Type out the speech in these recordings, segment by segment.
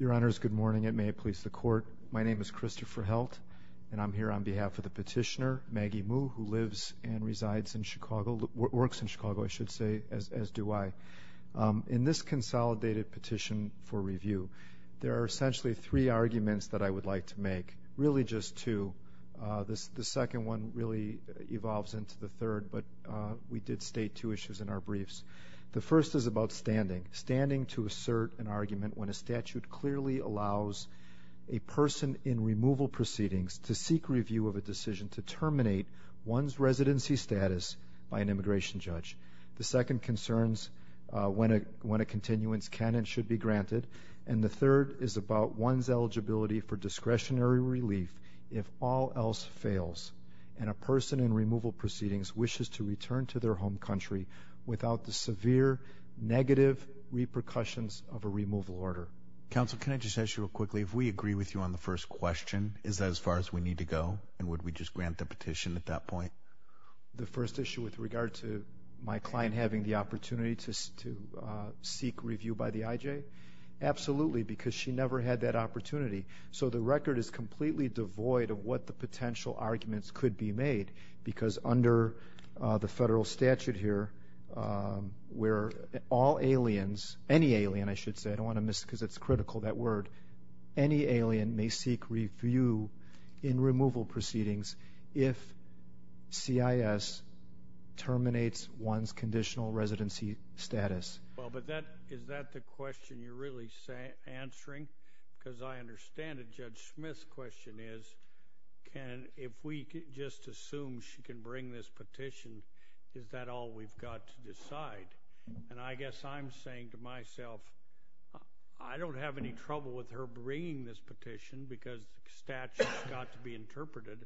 Your Honors, good morning and may it please the Court. My name is Christopher Heldt and I'm here on behalf of the petitioner, Maggie Mu, who lives and resides in Chicago, works in Chicago, I should say, as do I. In this consolidated petition for review, there are essentially three arguments that I would like to make, really just two. The second one really evolves into the third, but we did state two issues in our briefs. The first is about standing, standing to assert an argument when a statute clearly allows a person in removal proceedings to seek review of a decision to terminate one's residency status by an immigration judge. The second concerns when a continuance can and should be granted. And the third is about one's eligibility for discretionary relief if all else fails and a person in removal proceedings wishes to return to their home country without the severe negative repercussions of a removal order. Counsel, can I just ask you real quickly, if we agree with you on the first question, is that as far as we need to go and would we just grant the petition at that point? The first issue with regard to my client having the opportunity to seek review by the IJ? Absolutely, because she never had that opportunity. So the record is completely devoid of what the potential arguments could be made, because under the federal statute here, where all aliens, any alien, I should say, I don't want to miss because it's critical, that word, any alien may seek review in removal proceedings if CIS terminates one's conditional residency status. Well, but is that the question you're really answering? Because I understand that Judge Smith's question is, if we just assume she can bring this petition, is that all we've got to decide? And I guess I'm saying to myself, I don't have any trouble with her bringing this petition because the statute's got to be interpreted,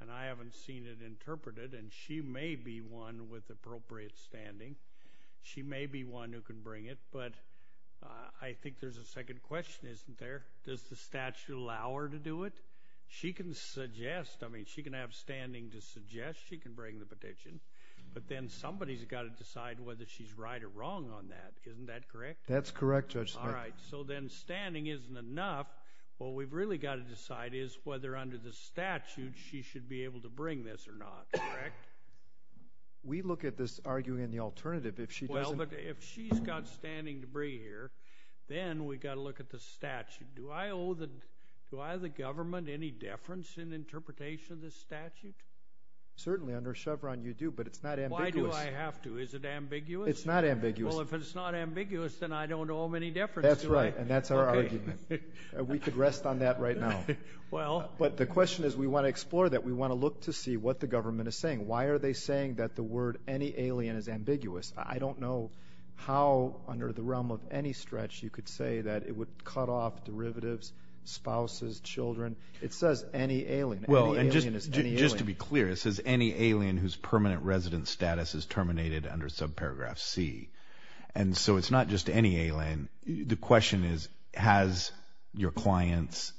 and I haven't seen it interpreted, and she may be one with appropriate standing, she may be one who can bring it, but I think there's a second question, isn't there? Does the statute allow her to do it? She can suggest, I mean, she can have standing to suggest she can bring the petition, but then somebody's got to decide whether she's right or wrong on that, isn't that correct? That's correct, Judge Smith. All right, so then standing isn't enough. What we've really got to decide is whether under the statute she should be able to bring this or not, correct? We look at this, arguing in the alternative, if she doesn't— Well, but if she's got standing to bring here, then we've got to look at the statute. Do I owe the government any deference in interpretation of this statute? Certainly, under Chevron you do, but it's not ambiguous. Why do I have to? Is it ambiguous? It's not ambiguous. Well, if it's not ambiguous, then I don't owe them any deference, do I? That's right, and that's our argument. We could rest on that right now. Well— But the question is we want to explore that. We want to look to see what the government is saying. Why are they saying that the word any alien is ambiguous? I don't know how under the realm of any stretch you could say that it would cut off derivatives, spouses, children. It says any alien. Any alien is any alien. And so it's not just any alien. The question is has your client's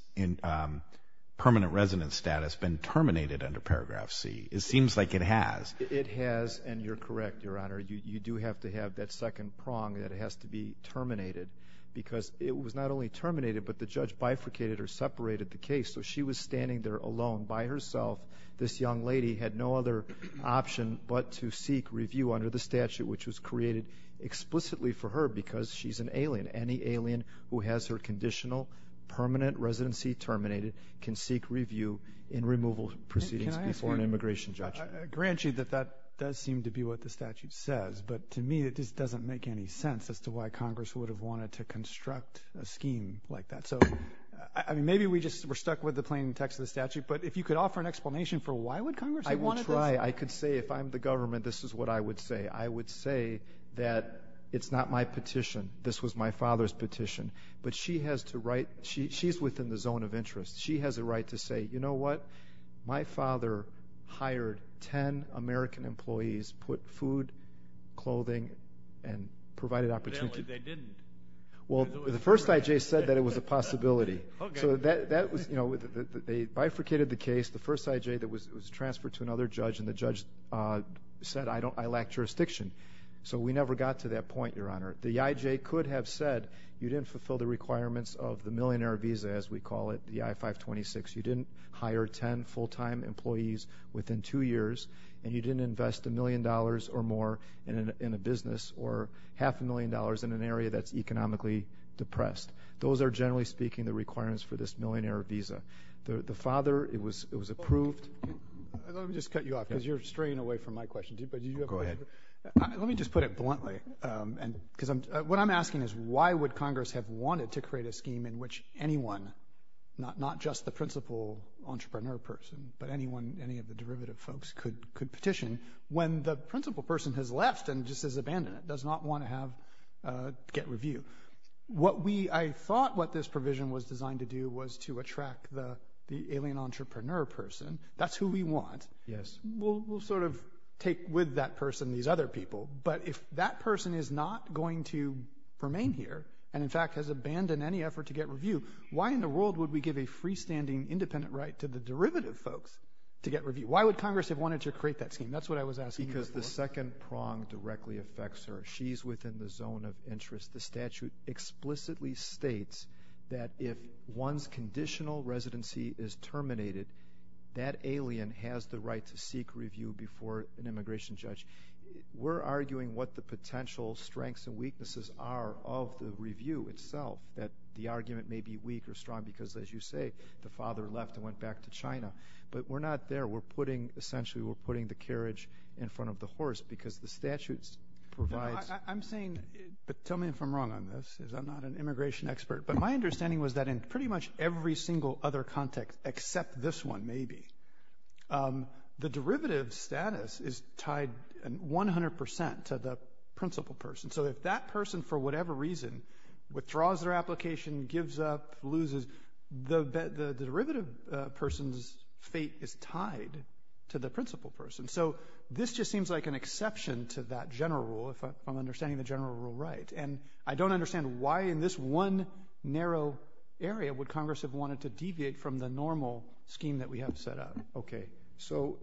permanent residence status been terminated under paragraph C? It seems like it has. It has, and you're correct, Your Honor. You do have to have that second prong that it has to be terminated because it was not only terminated, but the judge bifurcated or separated the case. So she was standing there alone by herself. This young lady had no other option but to seek review under the statute, which was created explicitly for her because she's an alien. Any alien who has her conditional permanent residency terminated can seek review in removal proceedings before an immigration judge. Can I ask you—grant you that that does seem to be what the statute says, but to me it just doesn't make any sense as to why Congress would have wanted to construct a scheme like that. So maybe we just were stuck with the plain text of the statute, but if you could offer an explanation for why would Congress have wanted this— I would try. I could say if I'm the government, this is what I would say. I would say that it's not my petition. This was my father's petition. But she has to write—she's within the zone of interest. She has a right to say, you know what, my father hired ten American employees, put food, clothing, and provided opportunity. Well, the first I.J. said that it was a possibility. So they bifurcated the case. The first I.J. was transferred to another judge, and the judge said I lack jurisdiction. So we never got to that point, Your Honor. The I.J. could have said you didn't fulfill the requirements of the millionaire visa, as we call it, the I-526. You didn't hire ten full-time employees within two years, and you didn't invest a million dollars or more in a business or half a million dollars in an area that's economically depressed. Those are, generally speaking, the requirements for this millionaire visa. The father, it was approved— Let me just cut you off because you're straying away from my question. Go ahead. Let me just put it bluntly, because what I'm asking is why would Congress have wanted to create a scheme in which anyone, not just the principal entrepreneur person, but anyone, any of the derivative folks, could petition when the principal person has left and just has abandoned it, does not want to have—get review. I thought what this provision was designed to do was to attract the alien entrepreneur person. That's who we want. Yes. We'll sort of take with that person these other people, but if that person is not going to remain here and, in fact, has abandoned any effort to get review, why in the world would we give a freestanding independent right to the derivative folks to get review? Why would Congress have wanted to create that scheme? That's what I was asking you before. Because the second prong directly affects her. She's within the zone of interest. The statute explicitly states that if one's conditional residency is terminated, that alien has the right to seek review before an immigration judge. We're arguing what the potential strengths and weaknesses are of the review itself, that the argument may be weak or strong because, as you say, the father left and went back to China. But we're not there. We're putting—essentially, we're putting the carriage in front of the horse because the statute provides— I'm saying—but tell me if I'm wrong on this, because I'm not an immigration expert. But my understanding was that in pretty much every single other context except this one, maybe, the derivative status is tied 100 percent to the principal person. So if that person, for whatever reason, withdraws their application, gives up, loses, the derivative person's fate is tied to the principal person. So this just seems like an exception to that general rule, if I'm understanding the general rule right. And I don't understand why in this one narrow area would Congress have wanted to deviate from the normal scheme that we have set up. Okay. So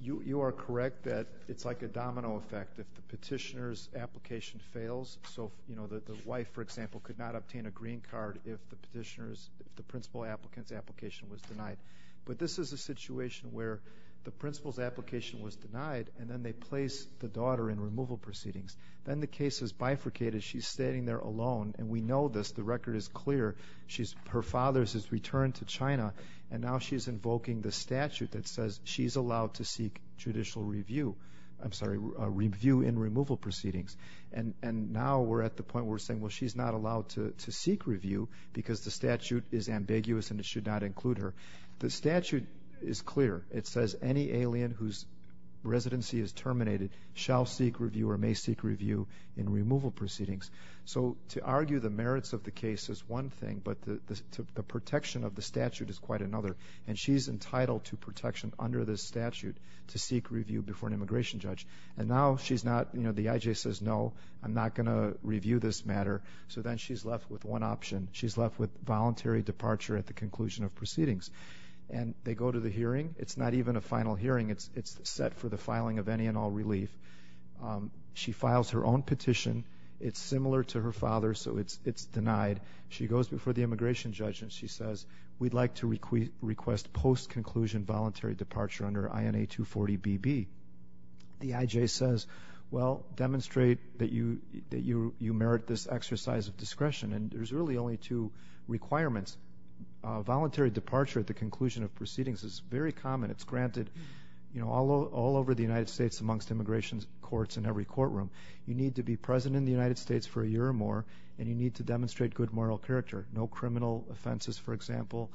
you are correct that it's like a domino effect. If the petitioner's application fails—so, you know, the wife, for example, could not obtain a green card if the principal applicant's application was denied. But this is a situation where the principal's application was denied, and then they place the daughter in removal proceedings. Then the case is bifurcated. She's standing there alone. And we know this. The record is clear. Her father has returned to China, and now she's invoking the statute that says she's allowed to seek judicial review—I'm sorry, review in removal proceedings. And now we're at the point where we're saying, well, she's not allowed to seek review because the statute is ambiguous and it should not include her. The statute is clear. It says any alien whose residency is terminated shall seek review or may seek review in removal proceedings. So to argue the merits of the case is one thing, but the protection of the statute is quite another. And she's entitled to protection under this statute to seek review before an immigration judge. And now she's not—you know, the IJ says, no, I'm not going to review this matter. So then she's left with one option. She's left with voluntary departure at the conclusion of proceedings. And they go to the hearing. It's not even a final hearing. It's set for the filing of any and all relief. She files her own petition. It's similar to her father's, so it's denied. She goes before the immigration judge, and she says, we'd like to request post-conclusion voluntary departure under INA 240BB. And there's really only two requirements. Voluntary departure at the conclusion of proceedings is very common. It's granted, you know, all over the United States amongst immigration courts in every courtroom. You need to be present in the United States for a year or more, and you need to demonstrate good moral character. No criminal offenses, for example,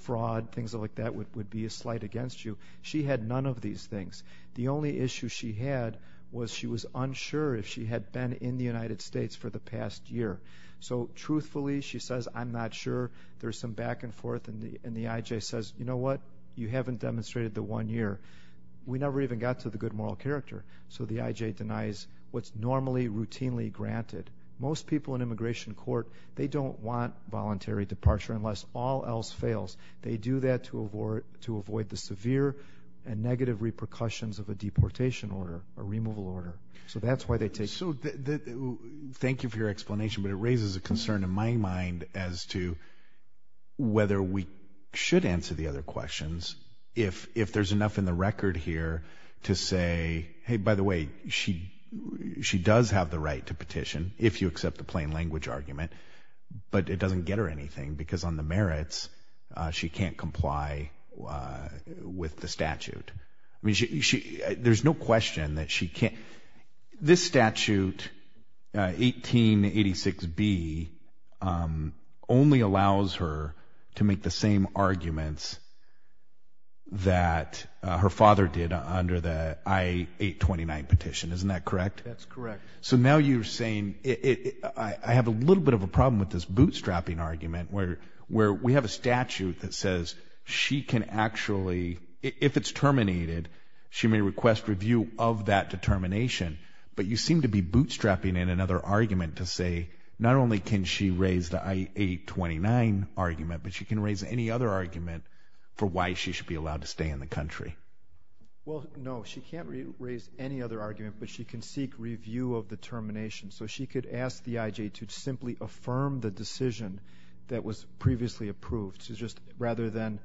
fraud, things like that, would be a slight against you. She had none of these things. The only issue she had was she was unsure if she had been in the United States for the past year. So truthfully, she says, I'm not sure. There's some back and forth, and the IJ says, you know what, you haven't demonstrated the one year. We never even got to the good moral character. So the IJ denies what's normally routinely granted. Most people in immigration court, they don't want voluntary departure unless all else fails. They do that to avoid the severe and negative repercussions of a deportation order, a removal order. So that's why they take it. Thank you for your explanation, but it raises a concern in my mind as to whether we should answer the other questions if there's enough in the record here to say, hey, by the way, she does have the right to petition, if you accept the plain language argument, but it doesn't get her anything because on the merits she can't comply with the statute. There's no question that she can't. This statute, 1886B, only allows her to make the same arguments that her father did under the I-829 petition. Isn't that correct? That's correct. So now you're saying I have a little bit of a problem with this bootstrapping argument where we have a statute that says she can actually, if it's terminated, she may request review of that determination, but you seem to be bootstrapping in another argument to say not only can she raise the I-829 argument, but she can raise any other argument for why she should be allowed to stay in the country. Well, no, she can't raise any other argument, but she can seek review of the termination. So she could ask the IJ to simply affirm the decision that was previously approved. So just rather than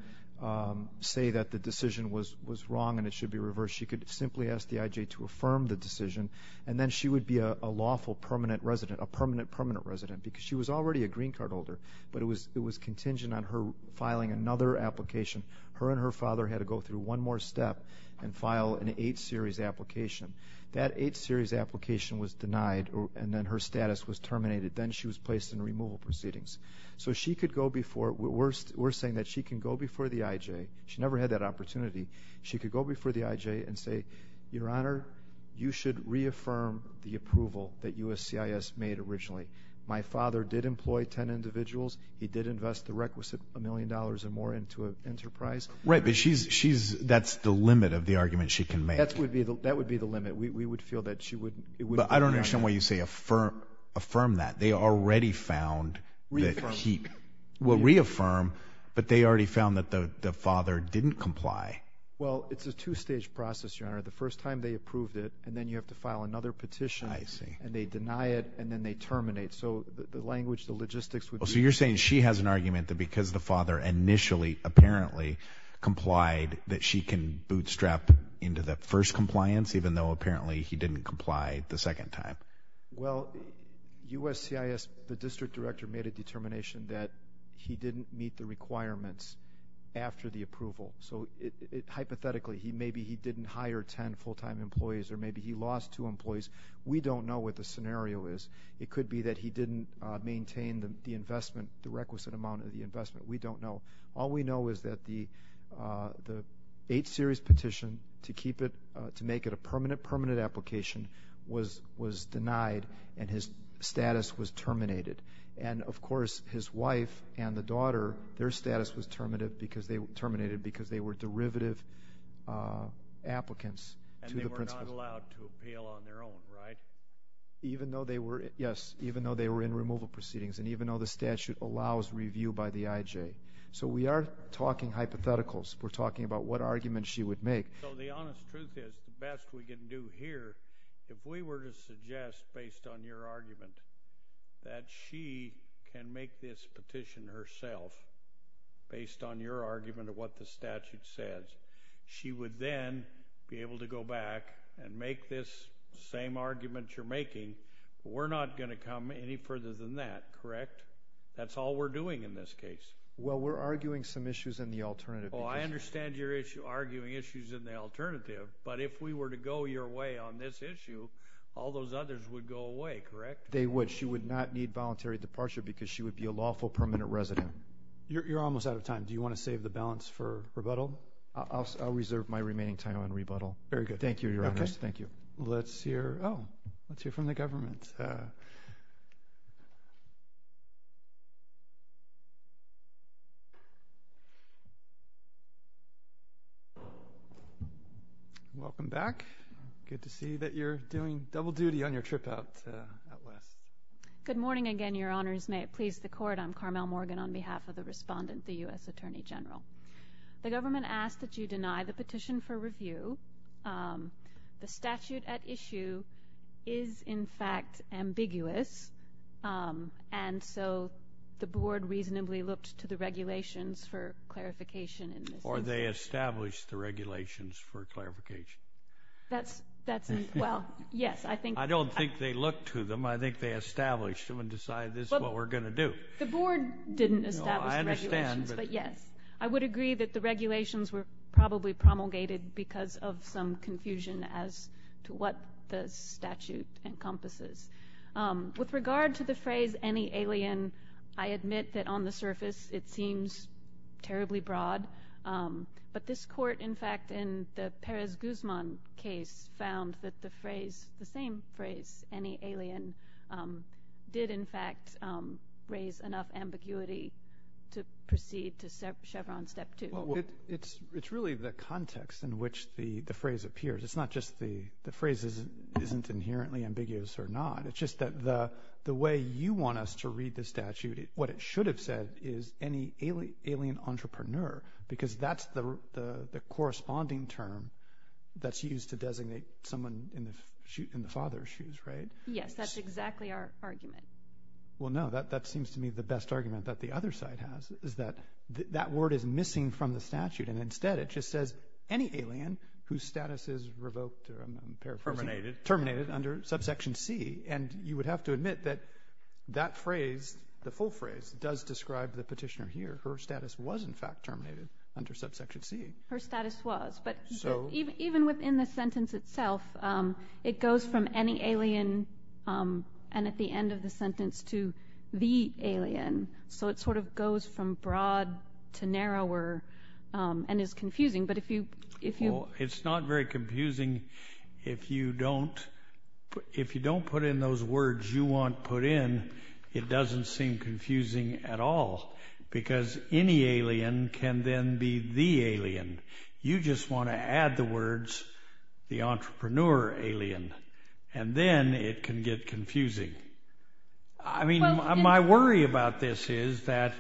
say that the decision was wrong and it should be reversed, she could simply ask the IJ to affirm the decision, and then she would be a lawful permanent resident, a permanent, permanent resident, because she was already a green card holder, but it was contingent on her filing another application. Her and her father had to go through one more step and file an 8-series application. That 8-series application was denied, and then her status was terminated. Then she was placed in removal proceedings. So she could go before. We're saying that she can go before the IJ. She never had that opportunity. She could go before the IJ and say, Your Honor, you should reaffirm the approval that USCIS made originally. My father did employ 10 individuals. He did invest the requisite $1 million or more into an enterprise. Right, but she's, that's the limit of the argument she can make. That would be the limit. We would feel that she would. But I don't understand why you say affirm that. They already found that he, well, reaffirm, but they already found that the father didn't comply. Well, it's a two-stage process, Your Honor. The first time they approved it, and then you have to file another petition. I see. And they deny it, and then they terminate. So the language, the logistics would be- So you're saying she has an argument that because the father initially apparently complied that she can bootstrap into the first compliance, even though apparently he didn't comply the second time. Well, USCIS, the district director made a determination that he didn't meet the requirements after the approval. So hypothetically, maybe he didn't hire 10 full-time employees or maybe he lost two employees. We don't know what the scenario is. It could be that he didn't maintain the investment, the requisite amount of the investment. We don't know. All we know is that the 8-series petition to keep it, to make it a permanent, permanent application was denied, and his status was terminated. And, of course, his wife and the daughter, their status was terminated because they were derivative applicants to the principles. And they were not allowed to appeal on their own, right? Even though they were, yes, even though they were in removal proceedings and even though the statute allows review by the IJ. So we are talking hypotheticals. We're talking about what argument she would make. So the honest truth is, the best we can do here, if we were to suggest, based on your argument, that she can make this petition herself, based on your argument of what the statute says, she would then be able to go back and make this same argument you're making, but we're not going to come any further than that, correct? That's all we're doing in this case. Well, we're arguing some issues in the alternative petition. Oh, I understand you're arguing issues in the alternative, but if we were to go your way on this issue, all those others would go away, correct? They would. She would not need voluntary departure because she would be a lawful permanent resident. You're almost out of time. Do you want to save the balance for rebuttal? I'll reserve my remaining time on rebuttal. Very good. Thank you, Your Honors. Thank you. Let's hear from the government. Welcome back. Good to see that you're doing double duty on your trip out west. Good morning again, Your Honors. May it please the Court, I'm Carmel Morgan on behalf of the respondent, the U.S. Attorney General. The government asked that you deny the petition for review. The statute at issue is, in fact, ambiguous, and so the Board reasonably looked to the regulations for clarification. Or they established the regulations for clarification. That's, well, yes. I don't think they looked to them. I think they established them and decided this is what we're going to do. The Board didn't establish the regulations. I understand. But, yes, I would agree that the regulations were probably promulgated because of some confusion as to what the statute encompasses. With regard to the phrase, any alien, I admit that on the surface it seems terribly broad. But this Court, in fact, in the Perez-Guzman case, found that the phrase, the same phrase, any alien, did, in fact, raise enough ambiguity to proceed to Chevron Step 2. It's really the context in which the phrase appears. It's not just the phrase isn't inherently ambiguous or not. It's just that the way you want us to read the statute, what it should have said is any alien entrepreneur because that's the corresponding term that's used to designate someone in the father's shoes, right? Yes, that's exactly our argument. Well, no, that seems to me the best argument that the other side has is that that word is missing from the statute. And instead it just says any alien whose status is revoked, or I'm paraphrasing, terminated under subsection C. And you would have to admit that that phrase, the full phrase, does describe the petitioner here. Her status was, in fact, terminated under subsection C. Her status was. But even within the sentence itself, it goes from any alien and at the end of the sentence to the alien. So it sort of goes from broad to narrower and is confusing. It's not very confusing if you don't put in those words you want put in. It doesn't seem confusing at all because any alien can then be the alien. You just want to add the words the entrepreneur alien and then it can get confusing. I mean, my worry about this is that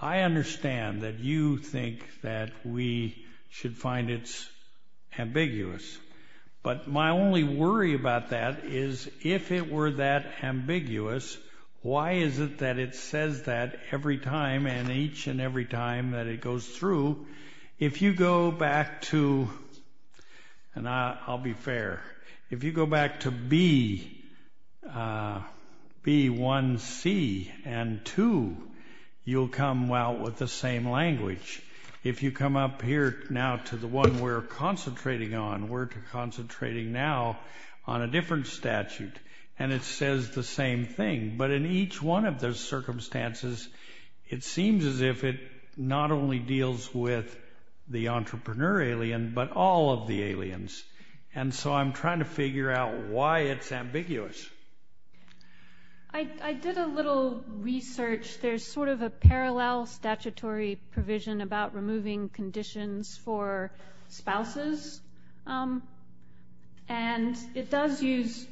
I understand that you think that we should find it ambiguous. But my only worry about that is if it were that ambiguous, why is it that it says that every time and each and every time that it goes through? If you go back to, and I'll be fair, if you go back to B1C and 2, you'll come out with the same language. If you come up here now to the one we're concentrating on, we're concentrating now on a different statute and it says the same thing. But in each one of those circumstances, it seems as if it not only deals with the entrepreneur alien but all of the aliens. And so I'm trying to figure out why it's ambiguous. I did a little research. There's sort of a parallel statutory provision about removing conditions for spouses. And it does use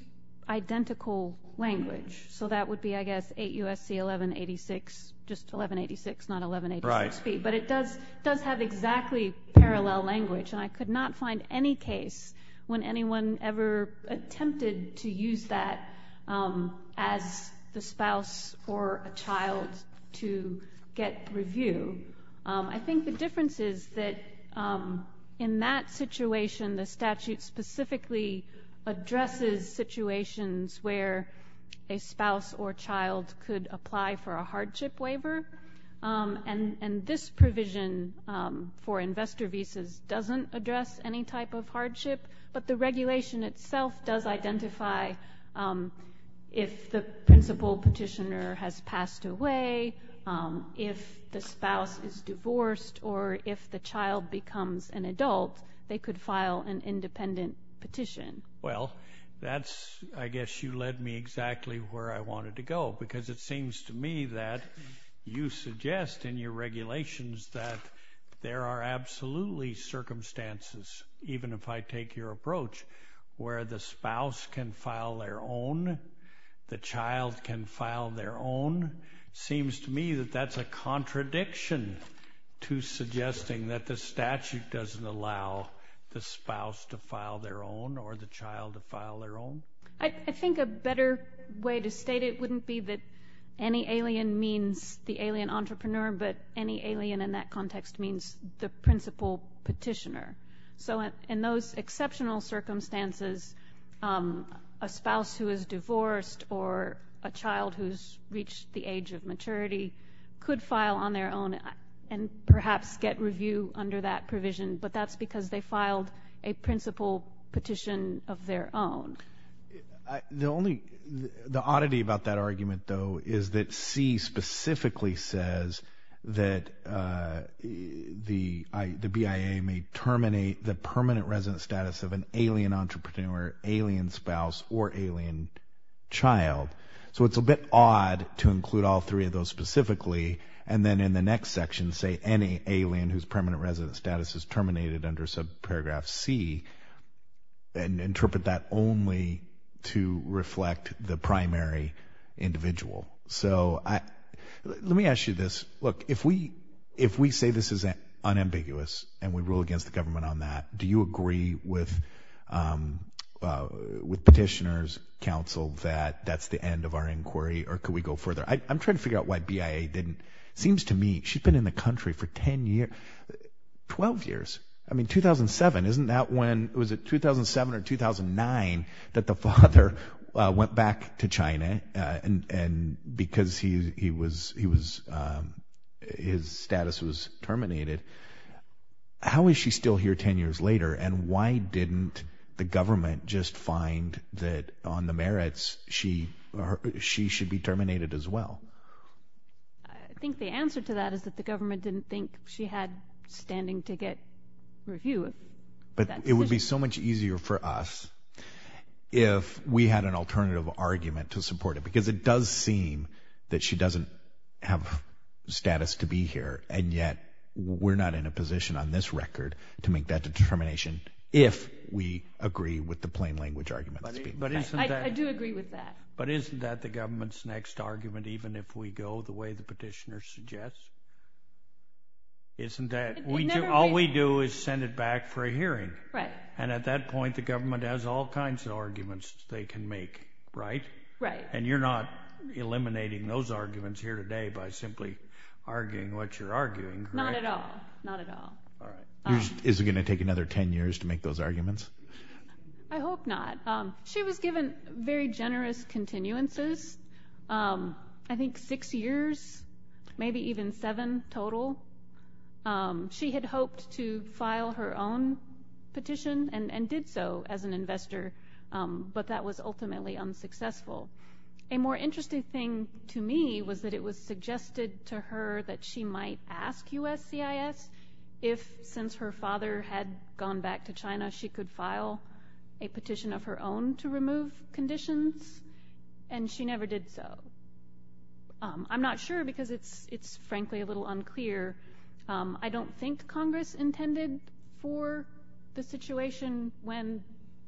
identical language. So that would be, I guess, 8 U.S.C. 1186, just 1186, not 1186B. But it does have exactly parallel language. And I could not find any case when anyone ever attempted to use that as the spouse or a child to get review. I think the difference is that in that situation, the statute specifically addresses situations where a spouse or child could apply for a hardship waiver. And this provision for investor visas doesn't address any type of hardship. But the regulation itself does identify if the principal petitioner has passed away, if the spouse is divorced, or if the child becomes an adult, they could file an independent petition. Well, that's, I guess, you led me exactly where I wanted to go. Because it seems to me that you suggest in your regulations that there are absolutely circumstances, even if I take your approach, where the spouse can file their own, the child can file their own. Seems to me that that's a contradiction to suggesting that the statute doesn't allow the spouse to file their own or the child to file their own. I think a better way to state it wouldn't be that any alien means the alien entrepreneur, but any alien in that context means the principal petitioner. So in those exceptional circumstances, a spouse who is divorced or a child who's reached the age of maturity could file on their own and perhaps get review under that provision. But that's because they filed a principal petition of their own. The oddity about that argument, though, is that C specifically says that the BIA may terminate the permanent resident status of an alien entrepreneur, alien spouse, or alien child. So it's a bit odd to include all three of those specifically and then in the next section say any alien whose permanent resident status is terminated under subparagraph C and interpret that only to reflect the primary individual. So let me ask you this. Look, if we say this is unambiguous and we rule against the government on that, do you agree with petitioners, counsel, that that's the end of our inquiry or could we go further? I'm trying to figure out why BIA didn't. Seems to me she's been in the country for 10 years, 12 years. I mean 2007, isn't that when, was it 2007 or 2009 that the father went back to China and because he was, his status was terminated? How is she still here 10 years later and why didn't the government just find that on the merits she should be terminated as well? I think the answer to that is that the government didn't think she had standing to get reviewed. But it would be so much easier for us if we had an alternative argument to support it because it does seem that she doesn't have status to be here and yet we're not in a position on this record to make that determination if we agree with the plain language argument. I do agree with that. But isn't that the government's next argument even if we go the way the petitioner suggests? Isn't that, all we do is send it back for a hearing. Right. And at that point the government has all kinds of arguments they can make, right? Right. And you're not eliminating those arguments here today by simply arguing what you're arguing, correct? Not at all, not at all. Is it going to take another 10 years to make those arguments? I hope not. She was given very generous continuances. I think six years, maybe even seven total. She had hoped to file her own petition and did so as an investor, but that was ultimately unsuccessful. A more interesting thing to me was that it was suggested to her that she might ask USCIS if, since her father had gone back to China, she could file a petition of her own to remove conditions. And she never did so. I'm not sure because it's frankly a little unclear. I don't think Congress intended for the situation when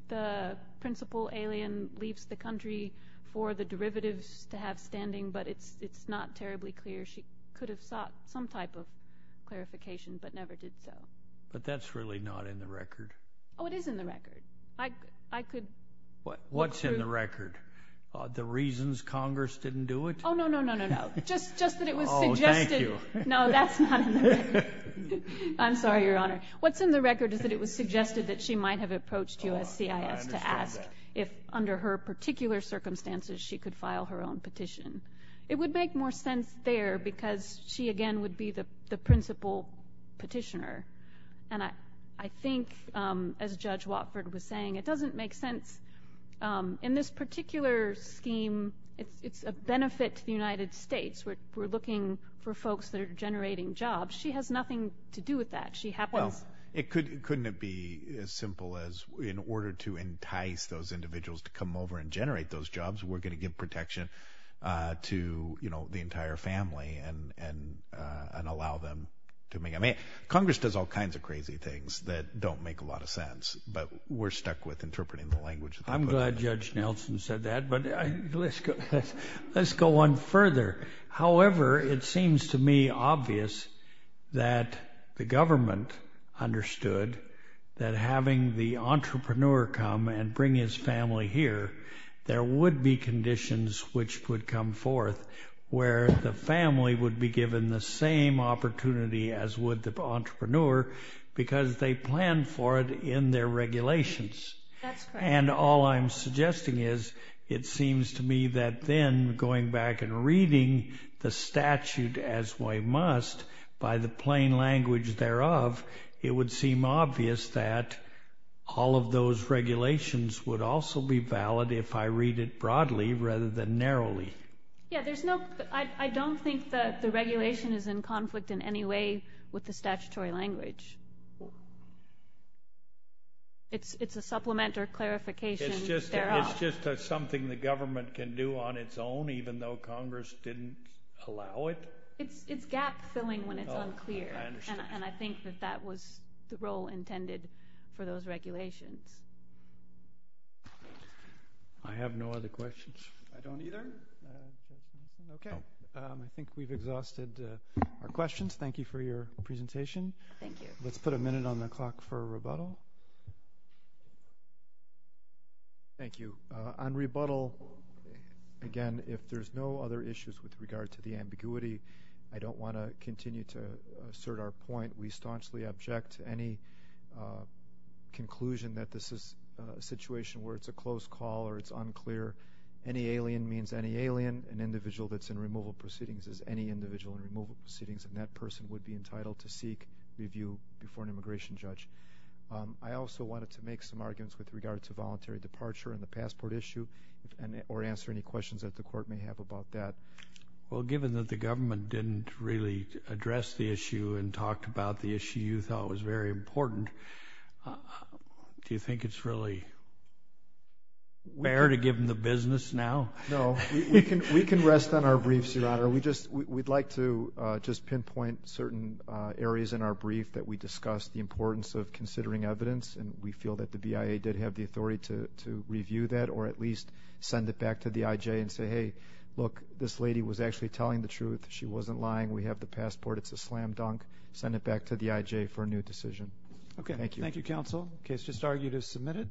the principal alien leaves the country for the derivatives to have standing, but it's not terribly clear. She could have sought some type of clarification but never did so. But that's really not in the record. Oh, it is in the record. What's in the record? The reasons Congress didn't do it? Oh, no, no, no, no, no. Just that it was suggested. Thank you. No, that's not in the record. I'm sorry, Your Honor. What's in the record is that it was suggested that she might have approached USCIS to ask if, under her particular circumstances, she could file her own petition. It would make more sense there because she, again, would be the principal petitioner. And I think, as Judge Watford was saying, it doesn't make sense. In this particular scheme, it's a benefit to the United States. We're looking for folks that are generating jobs. She has nothing to do with that. Well, couldn't it be as simple as in order to entice those individuals to come over and generate those jobs, we're going to give protection to the entire family and allow them to make it? I mean, Congress does all kinds of crazy things that don't make a lot of sense, but we're stuck with interpreting the language. I'm glad Judge Nelson said that, but let's go on further. However, it seems to me obvious that the government understood that having the entrepreneur come and bring his family here, there would be conditions which would come forth where the family would be given the same opportunity as would the entrepreneur because they planned for it in their regulations. That's correct. And all I'm suggesting is it seems to me that then going back and reading the statute as we must by the plain language thereof, it would seem obvious that all of those regulations would also be valid if I read it broadly rather than narrowly. Yeah, I don't think that the regulation is in conflict in any way with the statutory language. It's a supplement or clarification thereof. It's just something the government can do on its own even though Congress didn't allow it? It's gap filling when it's unclear. I understand. And I think that that was the role intended for those regulations. I have no other questions. I don't either. Okay. I think we've exhausted our questions. Thank you for your presentation. Thank you. Let's put a minute on the clock for rebuttal. Thank you. On rebuttal, again, if there's no other issues with regard to the ambiguity, I don't want to continue to assert our point. We staunchly object to any conclusion that this is a situation where it's a close call or it's unclear. Any alien means any alien. An individual that's in removal proceedings is any individual in removal proceedings, and that person would be entitled to seek review before an immigration judge. I also wanted to make some arguments with regard to voluntary departure and the passport issue or answer any questions that the Court may have about that. Well, given that the government didn't really address the issue and talked about the issue you thought was very important, do you think it's really fair to give them the business now? No. We can rest on our briefs, Your Honor. We'd like to just pinpoint certain areas in our brief that we discussed the importance of considering evidence, and we feel that the BIA did have the authority to review that or at least send it back to the IJ and say, hey, look, this lady was actually telling the truth. She wasn't lying. We have the passport. It's a slam dunk. Send it back to the IJ for a new decision. Okay. Thank you. Thank you, Counsel. The case just argued is submitted.